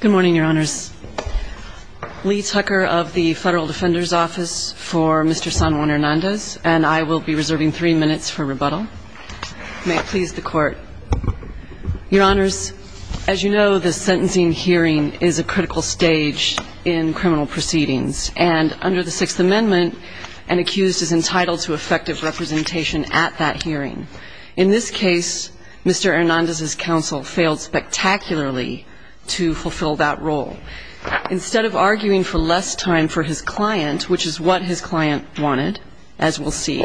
Good morning, Your Honors. Lee Tucker of the Federal Defender's Office for Mr. San Juan Hernandez, and I will be reserving three minutes for rebuttal. May it please the Court. Your Honors, as you know, the sentencing hearing is a critical stage in criminal proceedings, and under the Sixth Amendment, an accused is entitled to effective representation at that hearing. In this case, Mr. Hernandez's counsel failed spectacularly to fulfill that role. Instead of arguing for less time for his client, which is what his client wanted, as we'll see,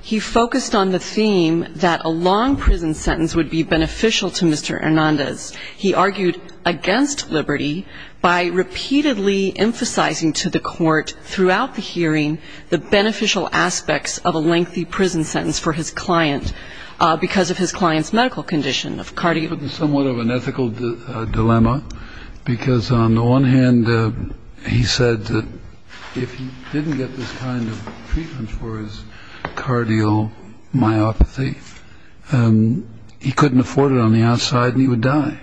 he focused on the theme that a long prison sentence would be beneficial to Mr. Hernandez. He argued against liberty by repeatedly emphasizing to the Court throughout the hearing the beneficial aspects of a lengthy prison sentence for his client because of his client's medical condition, of cardiopathy. This is somewhat of an ethical dilemma, because on the one hand, he said that if he didn't get this kind of treatment for his cardiomyopathy, he couldn't afford it on the outside, and he would die.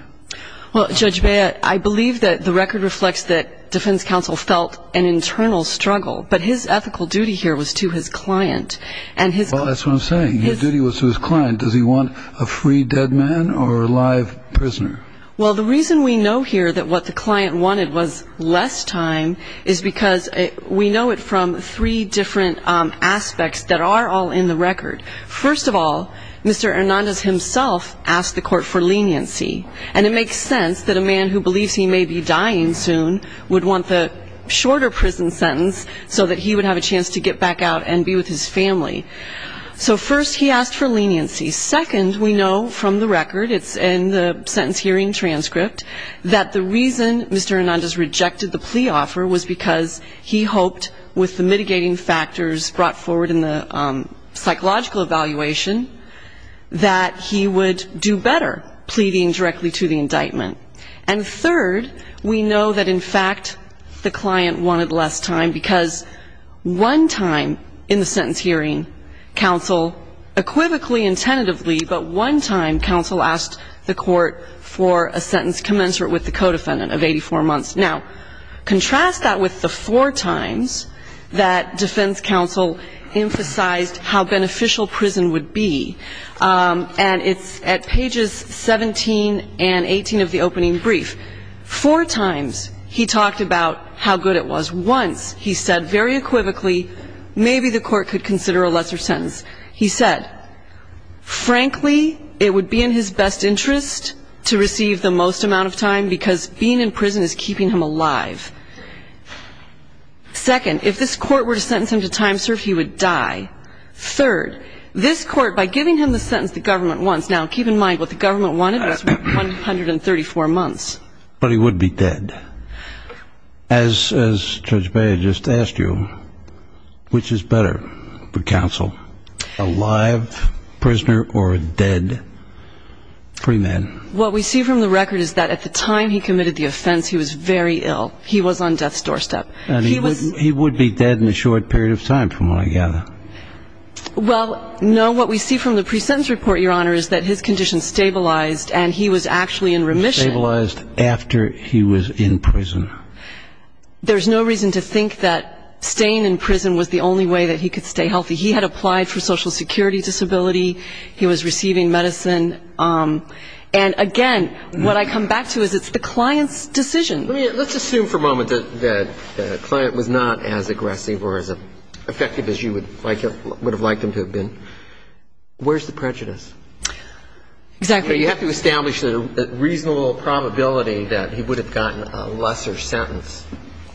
Well, Judge Bea, I believe that the record reflects that defense counsel felt an internal struggle, but his ethical duty here was to his client. Well, that's what I'm saying. His duty was to his client. Does he want a free dead man or a live prisoner? Well, the reason we know here that what the client wanted was less time is because we know it from three different aspects that are all in the record. First of all, Mr. Hernandez himself asked the Court for leniency, and it makes sense that a man who believes he may be dying soon would want the shorter prison sentence so that he would have a chance to get back out and be with his family. So first, he asked for leniency. Second, we know from the record, it's in the sentence hearing transcript, that the reason Mr. Hernandez rejected the plea offer was because he hoped with the mitigating factors brought forward in the psychological evaluation that he would do better pleading directly to the indictment. And third, we know that, in fact, the client wanted less time because one time in the sentence hearing, counsel, equivocally and tentatively, but one time, counsel asked the Court for a sentence commensurate with the co-defendant of 84 months. Now, contrast that with the four times that defense counsel emphasized how beneficial prison would be. And it's at pages 17 and 18 of the opening brief. Four times, he talked about how good it was. Once, he said very equivocally, maybe the Court could consider a lesser sentence. He said, frankly, it would be in his best interest to receive the most amount of time because being in prison is keeping him alive. Second, if this Court were to sentence him to time serve, he would die. Third, this Court, by giving him the sentence the government wants, now, keep in mind, what the government wanted was 134 months. But he would be dead. As Judge Beyer just asked you, which is better for counsel, a live prisoner or a dead free man? What we see from the record is that at the time he committed the offense, he was very ill. He was on death's doorstep. And he would be dead in a short period of time, from what I gather. Well, no, what we see from the pre-sentence report, Your Honor, is that his condition stabilized and he was actually in remission. Stabilized after he was in prison. There's no reason to think that staying in prison was the only way that he could stay healthy. He had applied for social security disability. He was receiving medicine. And, again, what I come back to is it's the client's decision. Let's assume for a moment that the client was not as aggressive or as effective as you would have liked him to have been. Where's the prejudice? Exactly. You have to establish the reasonable probability that he would have gotten a lesser sentence.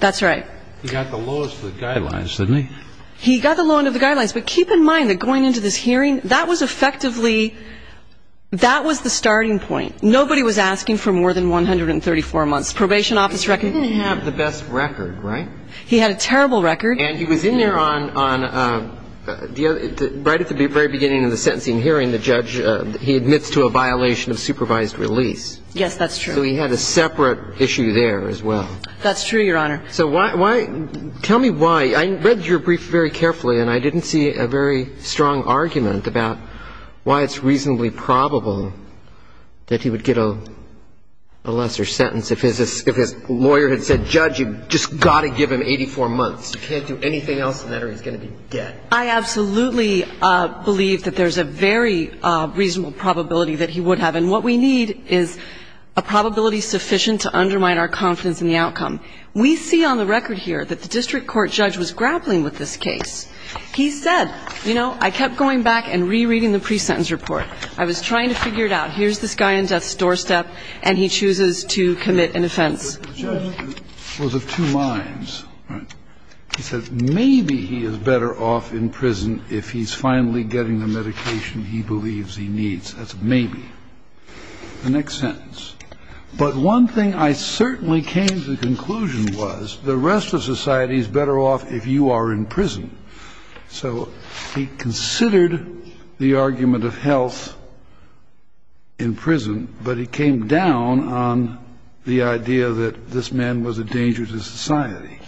That's right. He got the lowest of the guidelines, didn't he? He got the lowest of the guidelines. But keep in mind that going into this hearing, that was effectively, that was the starting point. Nobody was asking for more than 134 months. Probation office record. He didn't have the best record, right? He had a terrible record. And he was in there on, right at the very beginning of the sentencing hearing, the judge, he admits to a violation of supervised release. Yes, that's true. So he had a separate issue there as well. That's true, Your Honor. So why, tell me why, I read your brief very carefully and I didn't see a very strong argument about why it's reasonably probable that he would get a lesser sentence if his lawyer had said, judge, you've just got to give him 84 months. You can't do anything else with that or he's going to be dead. I absolutely believe that there's a very reasonable probability that he would have. And what we need is a probability sufficient to undermine our confidence in the outcome. We see on the record here that the district court judge was grappling with this case. He said, you know, I kept going back and rereading the pre-sentence report. I was trying to figure it out. Here's this guy on death's doorstep and he chooses to commit an offense. The judge was of two minds. He said maybe he is better off in prison if he's finally getting the medication he believes he needs. That's maybe. The next sentence, but one thing I certainly came to the conclusion was the rest of society is better off if you are in prison. So he considered the argument of health in prison, but he came down on the idea that this man was a danger to society.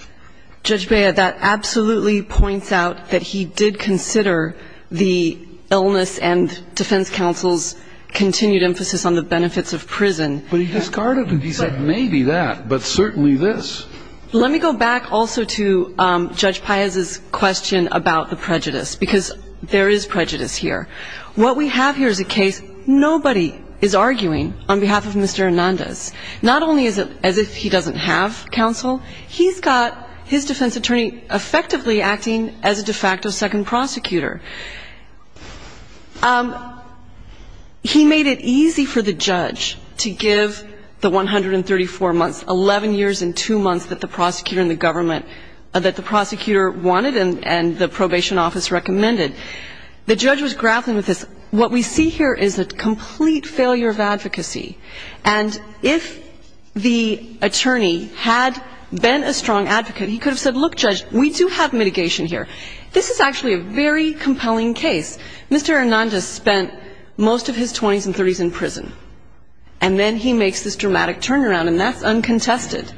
Judge Beyer, that absolutely points out that he did consider the illness and defense counsel's continued emphasis on the benefits of prison. But he discarded it. He said maybe that, but certainly this. Let me go back also to Judge Paez's question about the prejudice, because there is prejudice here. What we have here is a case nobody is arguing on behalf of Mr. Hernandez. Not only is it as if he doesn't have counsel, he's got his defense attorney effectively acting as a de facto second prosecutor. He made it easy for the judge to give the 134 months, 11 years and two months that the prosecutor and the government, that the prosecutor wanted and the probation office recommended. The judge was grappling with this. What we see here is a complete failure of advocacy. And if the attorney had been a strong advocate, he could have said, look, judge, we do have mitigation here. This is actually a very compelling case. Mr. Hernandez spent most of his 20s and 30s in prison. And then he makes this dramatic turnaround, and that's uncontested.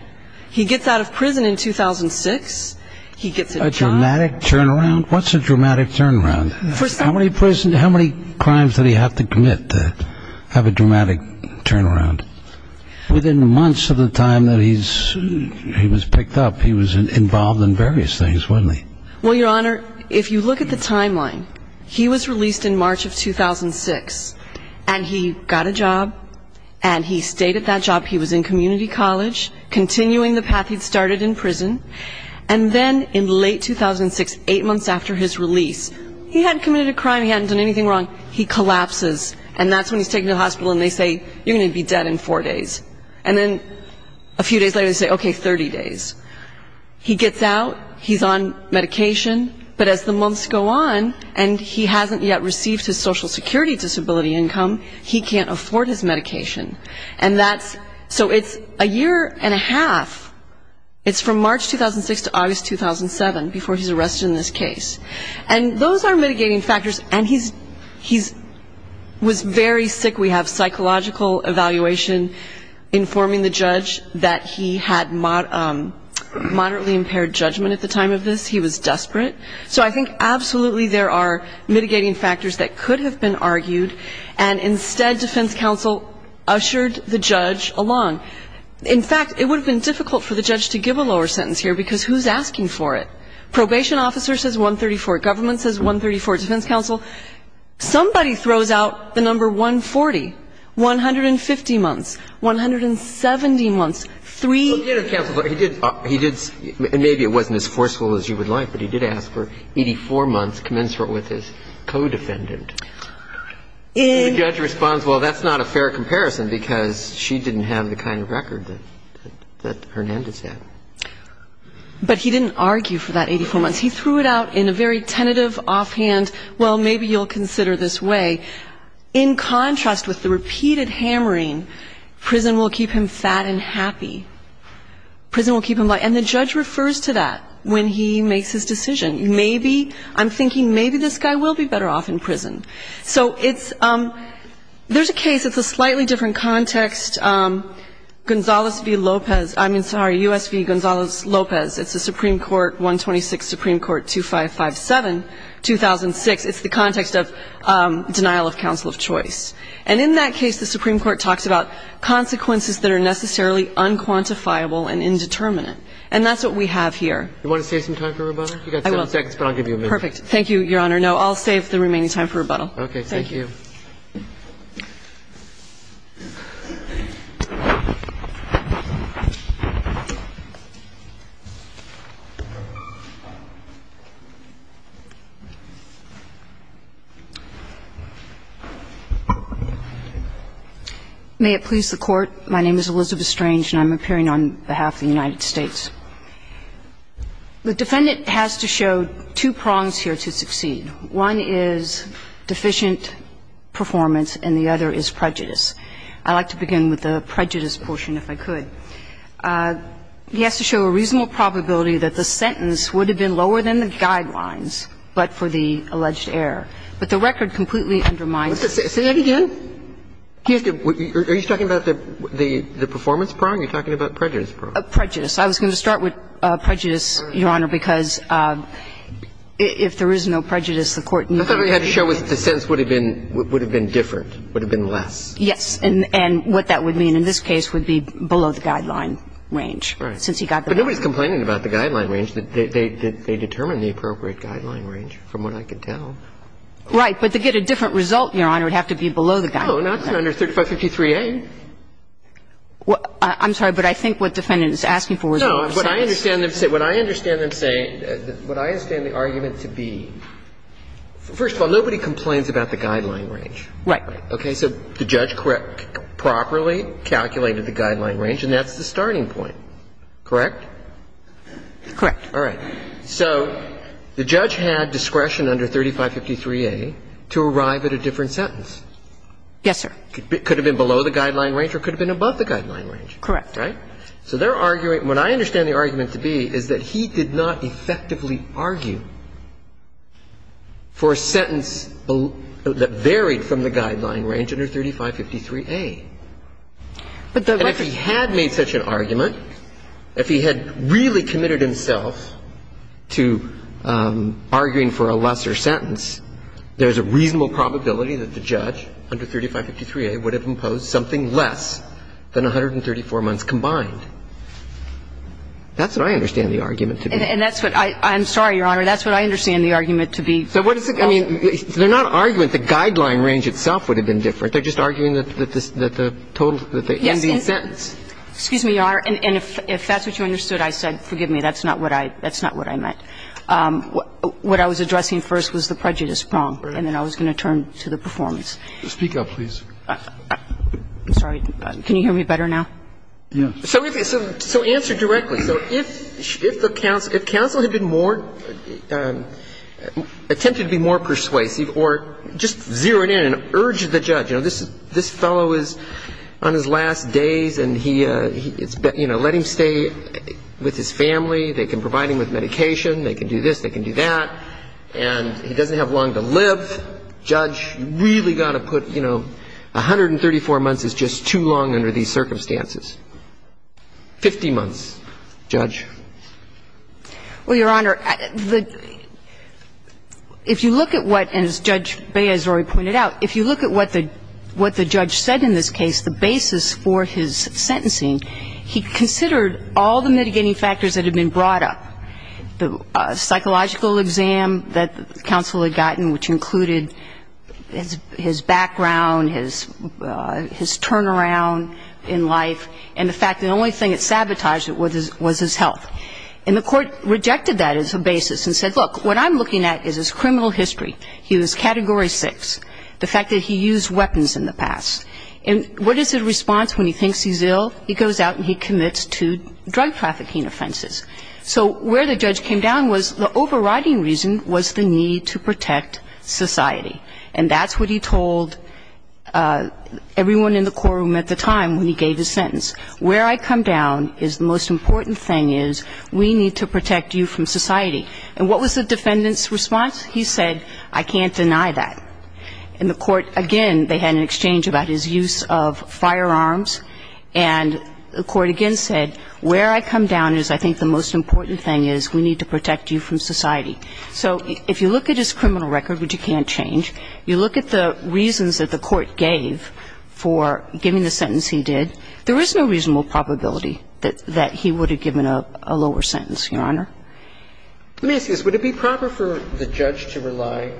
He gets out of prison in 2006. He gets a job. A dramatic turnaround? What's a dramatic turnaround? How many crimes did he have to commit to have a dramatic turnaround? Within months of the time that he was picked up, he was involved in various things, wasn't he? Well, Your Honor, if you look at the timeline, he was released in March of 2006. And he got a job. And he stayed at that job. He was in community college, continuing the path he'd started in prison. And then in late 2006, eight months after his release, he hadn't committed a crime, he hadn't done anything wrong. He collapses. And that's when he's taken to the hospital, and they say, you're going to be dead in four days. And then a few days later, they say, okay, 30 days. He gets out. He's on medication. But as the months go on, and he hasn't yet received his Social Security disability income, he can't afford his medication. And that's so it's a year and a half. It's from March 2006 to August 2007, before he's arrested in this case. And those are mitigating factors. And he was very sick. We have psychological evaluation informing the judge that he had moderately impaired judgment at the time of this. He was desperate. So I think absolutely there are mitigating factors that could have been argued. And instead, defense counsel ushered the judge along. In fact, it would have been difficult for the judge to give a lower sentence here, because who's asking for it? Probation officer says 134. Government says 134. Defense counsel, somebody throws out the number 140. 150 months. 170 months. Three. He did, and maybe it wasn't as forceful as you would like, but he did ask for 84 months commensurate with his co-defendant. And the judge responds, well, that's not a fair comparison, because she didn't have the kind of record that Hernandez had. But he didn't argue for that 84 months. He threw it out in a very tentative offhand, well, maybe you'll consider this way. In contrast with the repeated hammering, prison will keep him fat and happy. Prison will keep him light. And the judge refers to that when he makes his decision. Maybe, I'm thinking maybe this guy will be better off in prison. So it's ‑‑ there's a case, it's a slightly different context. Gonzales v. Lopez, I mean, sorry, U.S. v. Gonzales Lopez. It's a Supreme Court, 126 Supreme Court, 2557, 2006. It's the context of denial of counsel of choice. And in that case, the Supreme Court talks about consequences that are necessarily unquantifiable and indeterminate. And that's what we have here. You want to save some time for rebuttal? I will. You've got seven seconds, but I'll give you a minute. Perfect. Thank you, Your Honor. No, I'll save the remaining time for rebuttal. Okay. Thank you. May it please the Court. My name is Elizabeth Strange, and I'm appearing on behalf of the United States. The defendant has to show two prongs here to succeed. One is deficient performance, and the other is prejudice. I'd like to begin with the prejudice portion, if I could. He has to show a reasonable probability that the sentence would have been lower than the guidelines, but for the alleged error. But the record completely undermines it. Say that again? Are you talking about the performance prong, or are you talking about prejudice prong? Prejudice. Prejudice. I was going to start with prejudice, Your Honor, because if there is no prejudice, the Court needs to show that the sentence would have been different, would have been less. Yes. And what that would mean in this case would be below the guideline range. Right. But nobody's complaining about the guideline range. They determined the appropriate guideline range, from what I could tell. Right. But to get a different result, Your Honor, it would have to be below the guideline. Oh, now it's under 3553A. I'm sorry, but I think what the defendant is asking for is a different sentence. No. What I understand them saying, what I understand the argument to be, first of all, nobody complains about the guideline range. Right. Okay. So the judge correctly, properly calculated the guideline range, and that's the starting point, correct? Correct. All right. So the judge had discretion under 3553A to arrive at a different sentence. Yes, sir. So the judge could have been below the guideline range or could have been above the guideline range. Correct. Right? So they're arguing, what I understand the argument to be is that he did not effectively argue for a sentence that varied from the guideline range under 3553A. But the record... And if he had made such an argument, if he had really committed himself to arguing for a lesser sentence, there's a reasonable probability that the judge under 3553A would have imposed something less than 134 months combined. That's what I understand the argument to be. And that's what I'm sorry, Your Honor. That's what I understand the argument to be. So what is it? I mean, they're not arguing the guideline range itself would have been different. They're just arguing that the total, that the ending sentence... Yes. Excuse me, Your Honor. And if that's what you understood, I said, forgive me, that's not what I meant. What I was addressing first was the prejudice prong. Right. And then I was going to turn to the performance. Speak up, please. I'm sorry. Can you hear me better now? Yes. So answer directly. So if the counsel had been more, attempted to be more persuasive or just zeroed in and urged the judge, you know, this fellow is on his last days and he, you know, let him stay with his family. They can provide him with medication. They can do this. They can do that. And he doesn't have long to live. Judge, you've really got to put, you know, 134 months is just too long under these circumstances. Fifty months, judge. Well, Your Honor, the – if you look at what, as Judge Beyazori pointed out, if you look at what the judge said in this case, the basis for his sentencing, he considered all the mitigating factors that had been brought up, the psychological exam that the counsel had gotten, which included his background, his turnaround in life, and the fact that the only thing that sabotaged it was his health. And the court rejected that as a basis and said, look, what I'm looking at is his criminal history. He was Category 6. The fact that he used weapons in the past. And what is his response when he thinks he's ill? He goes out and he commits two drug trafficking offenses. So where the judge came down was the overriding reason was the need to protect society. And that's what he told everyone in the courtroom at the time when he gave his sentence. Where I come down is the most important thing is we need to protect you from society. And what was the defendant's response? He said, I can't deny that. And the court, again, they had an exchange about his use of firearms. And the court again said, where I come down is I think the most important thing is we need to protect you from society. So if you look at his criminal record, which you can't change, you look at the reasons that the court gave for giving the sentence he did, there is no reasonable probability that he would have given a lower sentence, Your Honor. Let me ask you this. Would it be proper for the judge to rely,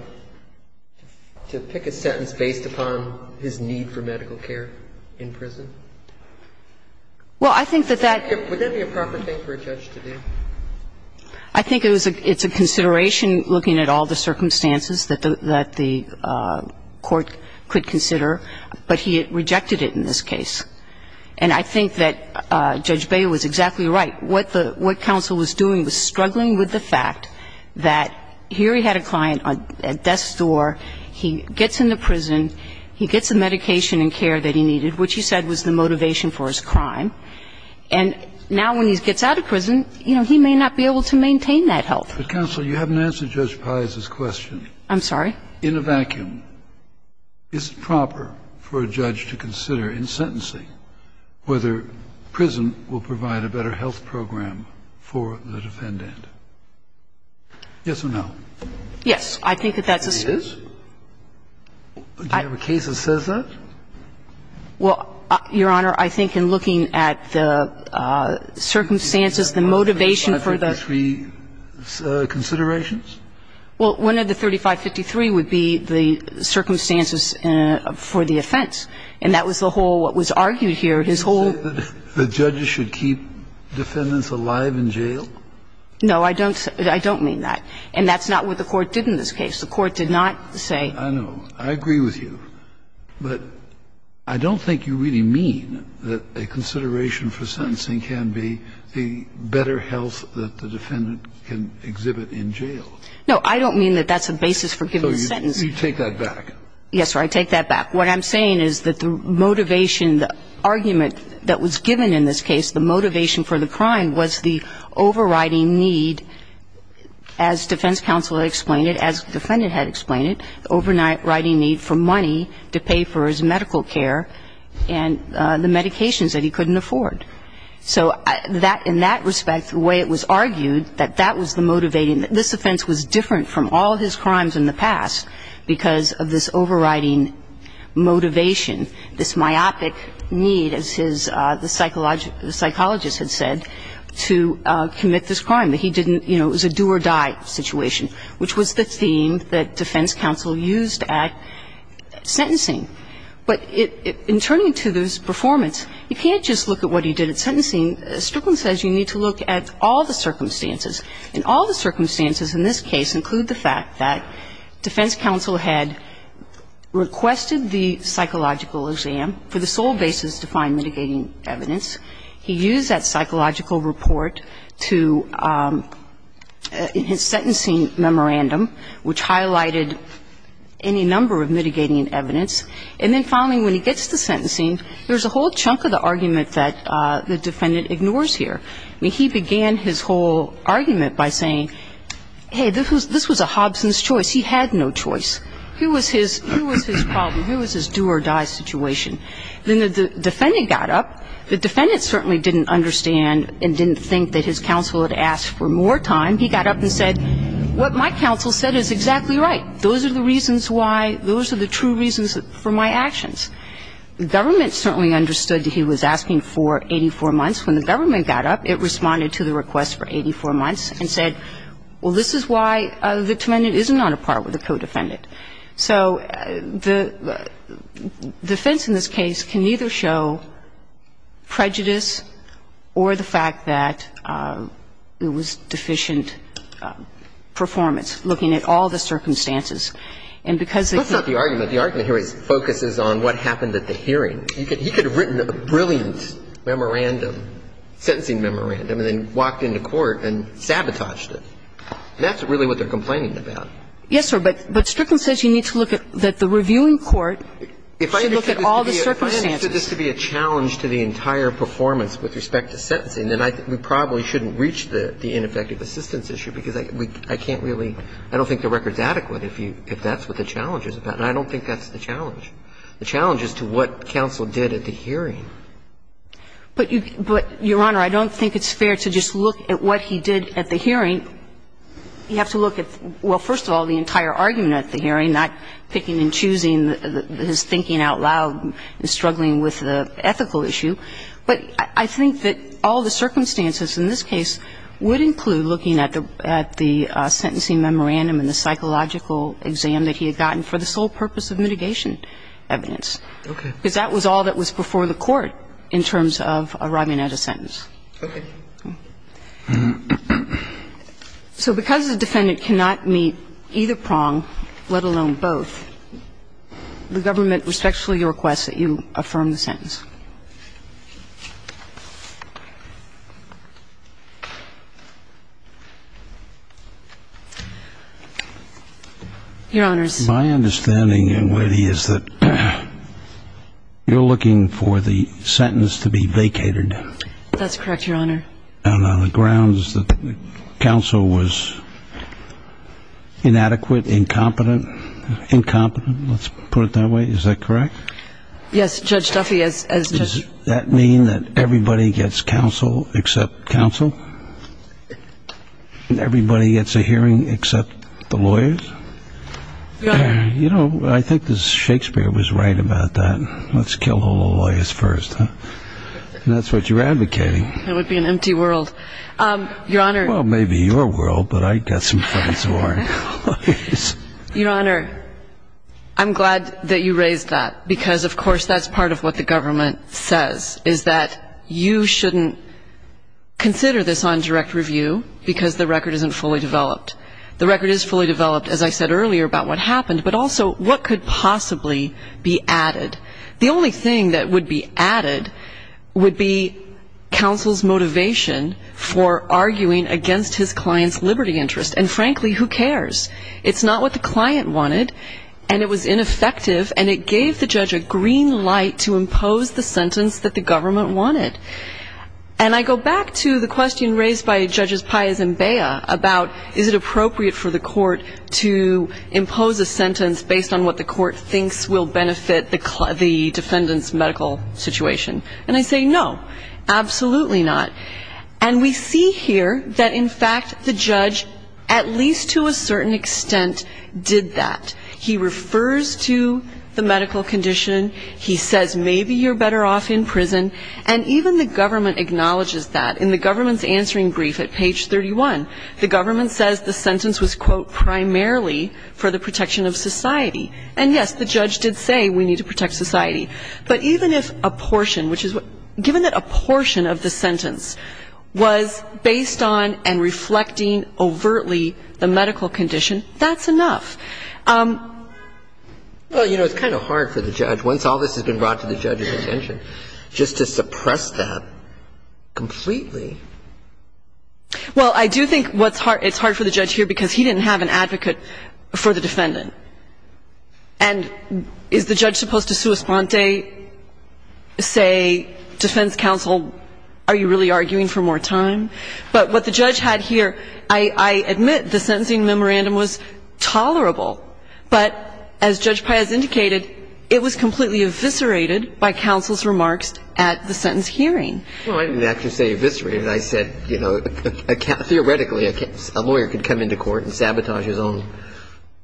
to pick a sentence based upon his need for medical care in prison? Well, I think that that's the case. Would that be a proper thing for a judge to do? I think it's a consideration looking at all the circumstances that the court could consider. But he rejected it in this case. And I think that Judge Baylor was exactly right. What the – what counsel was doing was struggling with the fact that here he had a client at death's door, he gets into prison, he gets the medication and care that he needed, which he said was the motivation for his crime. And now when he gets out of prison, you know, he may not be able to maintain that health. But, counsel, you haven't answered Judge Paiz's question. I'm sorry? In a vacuum, is it proper for a judge to consider in sentencing whether prison will provide a better health program for the defendant? Yes or no? Yes. I think that that's a – It is? Do you have a case that says that? Well, Your Honor, I think in looking at the circumstances, the motivation for the – 3553 considerations? Well, one of the 3553 would be the circumstances for the offense. And that was the whole what was argued here. His whole – Do you hold that the judges should keep defendants alive in jail? No, I don't. I don't mean that. And that's not what the Court did in this case. The Court did not say – I know. I agree with you. But I don't think you really mean that a consideration for sentencing can be the better health that the defendant can exhibit in jail. No, I don't mean that that's a basis for giving a sentence. So you take that back? Yes, sir. I take that back. What I'm saying is that the motivation, the argument that was given in this case, the motivation for the crime was the overriding need, as defense counsel explained it, as the defendant had explained it, the overriding need for money to pay for his medical care and the medications that he couldn't afford. So in that respect, the way it was argued, that that was the motivating – motivation, this myopic need, as the psychologist had said, to commit this crime, that he didn't – you know, it was a do-or-die situation, which was the theme that defense counsel used at sentencing. But in turning to this performance, you can't just look at what he did at sentencing. Strickland says you need to look at all the circumstances. And all the circumstances in this case include the fact that defense counsel had requested the psychological exam for the sole basis to find mitigating evidence. He used that psychological report to – in his sentencing memorandum, which highlighted any number of mitigating evidence. And then, finally, when he gets to sentencing, there's a whole chunk of the argument that the defendant ignores here. I mean, he began his whole argument by saying, hey, this was a Hobson's choice. He had no choice. Who was his – who was his problem? Who was his do-or-die situation? Then the defendant got up. The defendant certainly didn't understand and didn't think that his counsel had asked for more time. He got up and said, what my counsel said is exactly right. Those are the reasons why – those are the true reasons for my actions. The government certainly understood that he was asking for 84 months. When the government got up, it responded to the request for 84 months and said, well, this is why the defendant isn't on a part with the co-defendant. So the defense in this case can either show prejudice or the fact that it was deficient performance, looking at all the circumstances. And because it's not the argument. The argument here focuses on what happened at the hearing. He could have written a brilliant memorandum, sentencing memorandum, and then walked into court and sabotaged it. That's really what they're complaining about. Yes, sir. But Strickland says you need to look at – that the reviewing court should look at all the circumstances. If I understood this to be a challenge to the entire performance with respect to sentencing, then I think we probably shouldn't reach the ineffective assistance issue, because I can't really – I don't think the record's adequate if you – if that's what the challenge is about. And I don't think that's the challenge. The challenge is to what counsel did at the hearing. But, Your Honor, I don't think it's fair to just look at what he did at the hearing and – you have to look at, well, first of all, the entire argument at the hearing, not picking and choosing his thinking out loud and struggling with the ethical issue. But I think that all the circumstances in this case would include looking at the – at the sentencing memorandum and the psychological exam that he had gotten for the sole purpose of mitigation evidence. Okay. Because that was all that was before the court in terms of arriving at a sentence. Okay. So because the defendant cannot meet either prong, let alone both, the government respectfully requests that you affirm the sentence. Your Honors. My understanding, then, Lady, is that you're looking for the sentence to be vacated. That's correct, Your Honor. And on the grounds that counsel was inadequate, incompetent. Incompetent, let's put it that way. Is that correct? Yes, Judge Duffy, as – Does that mean that everybody gets counsel except counsel? Everybody gets a hearing except the lawyers? Your Honor. You know, I think that Shakespeare was right about that. Let's kill all the lawyers first. That's what you're advocating. That would be an empty world. Your Honor. Well, maybe your world, but I've got some friends who are lawyers. Your Honor, I'm glad that you raised that because, of course, that's part of what the government says, is that you shouldn't consider this on direct review because the record isn't fully developed. The record is fully developed, as I said earlier, about what happened, but also what could possibly be added. The only thing that would be added would be counsel's motivation for arguing against his client's liberty interest. And, frankly, who cares? It's not what the client wanted, and it was ineffective, and it gave the judge a green light to impose the sentence that the government wanted. And I go back to the question raised by Judges Pius and Bea about is it appropriate for the court to impose a sentence based on what the court thinks will benefit the defendant's medical situation. And I say no, absolutely not. And we see here that, in fact, the judge, at least to a certain extent, did that. He refers to the medical condition. He says maybe you're better off in prison. And even the government acknowledges that. In the government's answering brief at page 31, the government says the sentence was, quote, primarily for the protection of society. And, yes, the judge did say we need to protect society. But even if a portion, which is what – given that a portion of the sentence was based on and reflecting overtly the medical condition, that's enough. Well, you know, it's kind of hard for the judge. Once all this has been brought to the judge's attention, just to suppress that completely. Well, I do think what's hard – it's hard for the judge here because he didn't have an advocate for the defendant. And is the judge supposed to sua sponte, say, defense counsel, are you really arguing for more time? But what the judge had here, I admit the sentencing memorandum was tolerable. But as Judge Pius indicated, it was completely eviscerated by counsel's remarks at the sentence hearing. Well, I didn't actually say eviscerated. I said, you know, theoretically, a lawyer could come into court and sabotage his own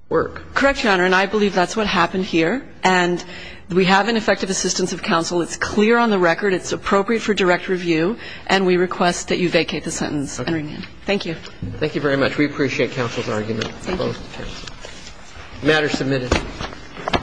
work. Correct, Your Honor. And I believe that's what happened here. And we have an effective assistance of counsel. It's clear on the record. It's appropriate for direct review. And we request that you vacate the sentence and remand. Thank you. Thank you very much. We appreciate counsel's argument. Thank you. The matter is submitted.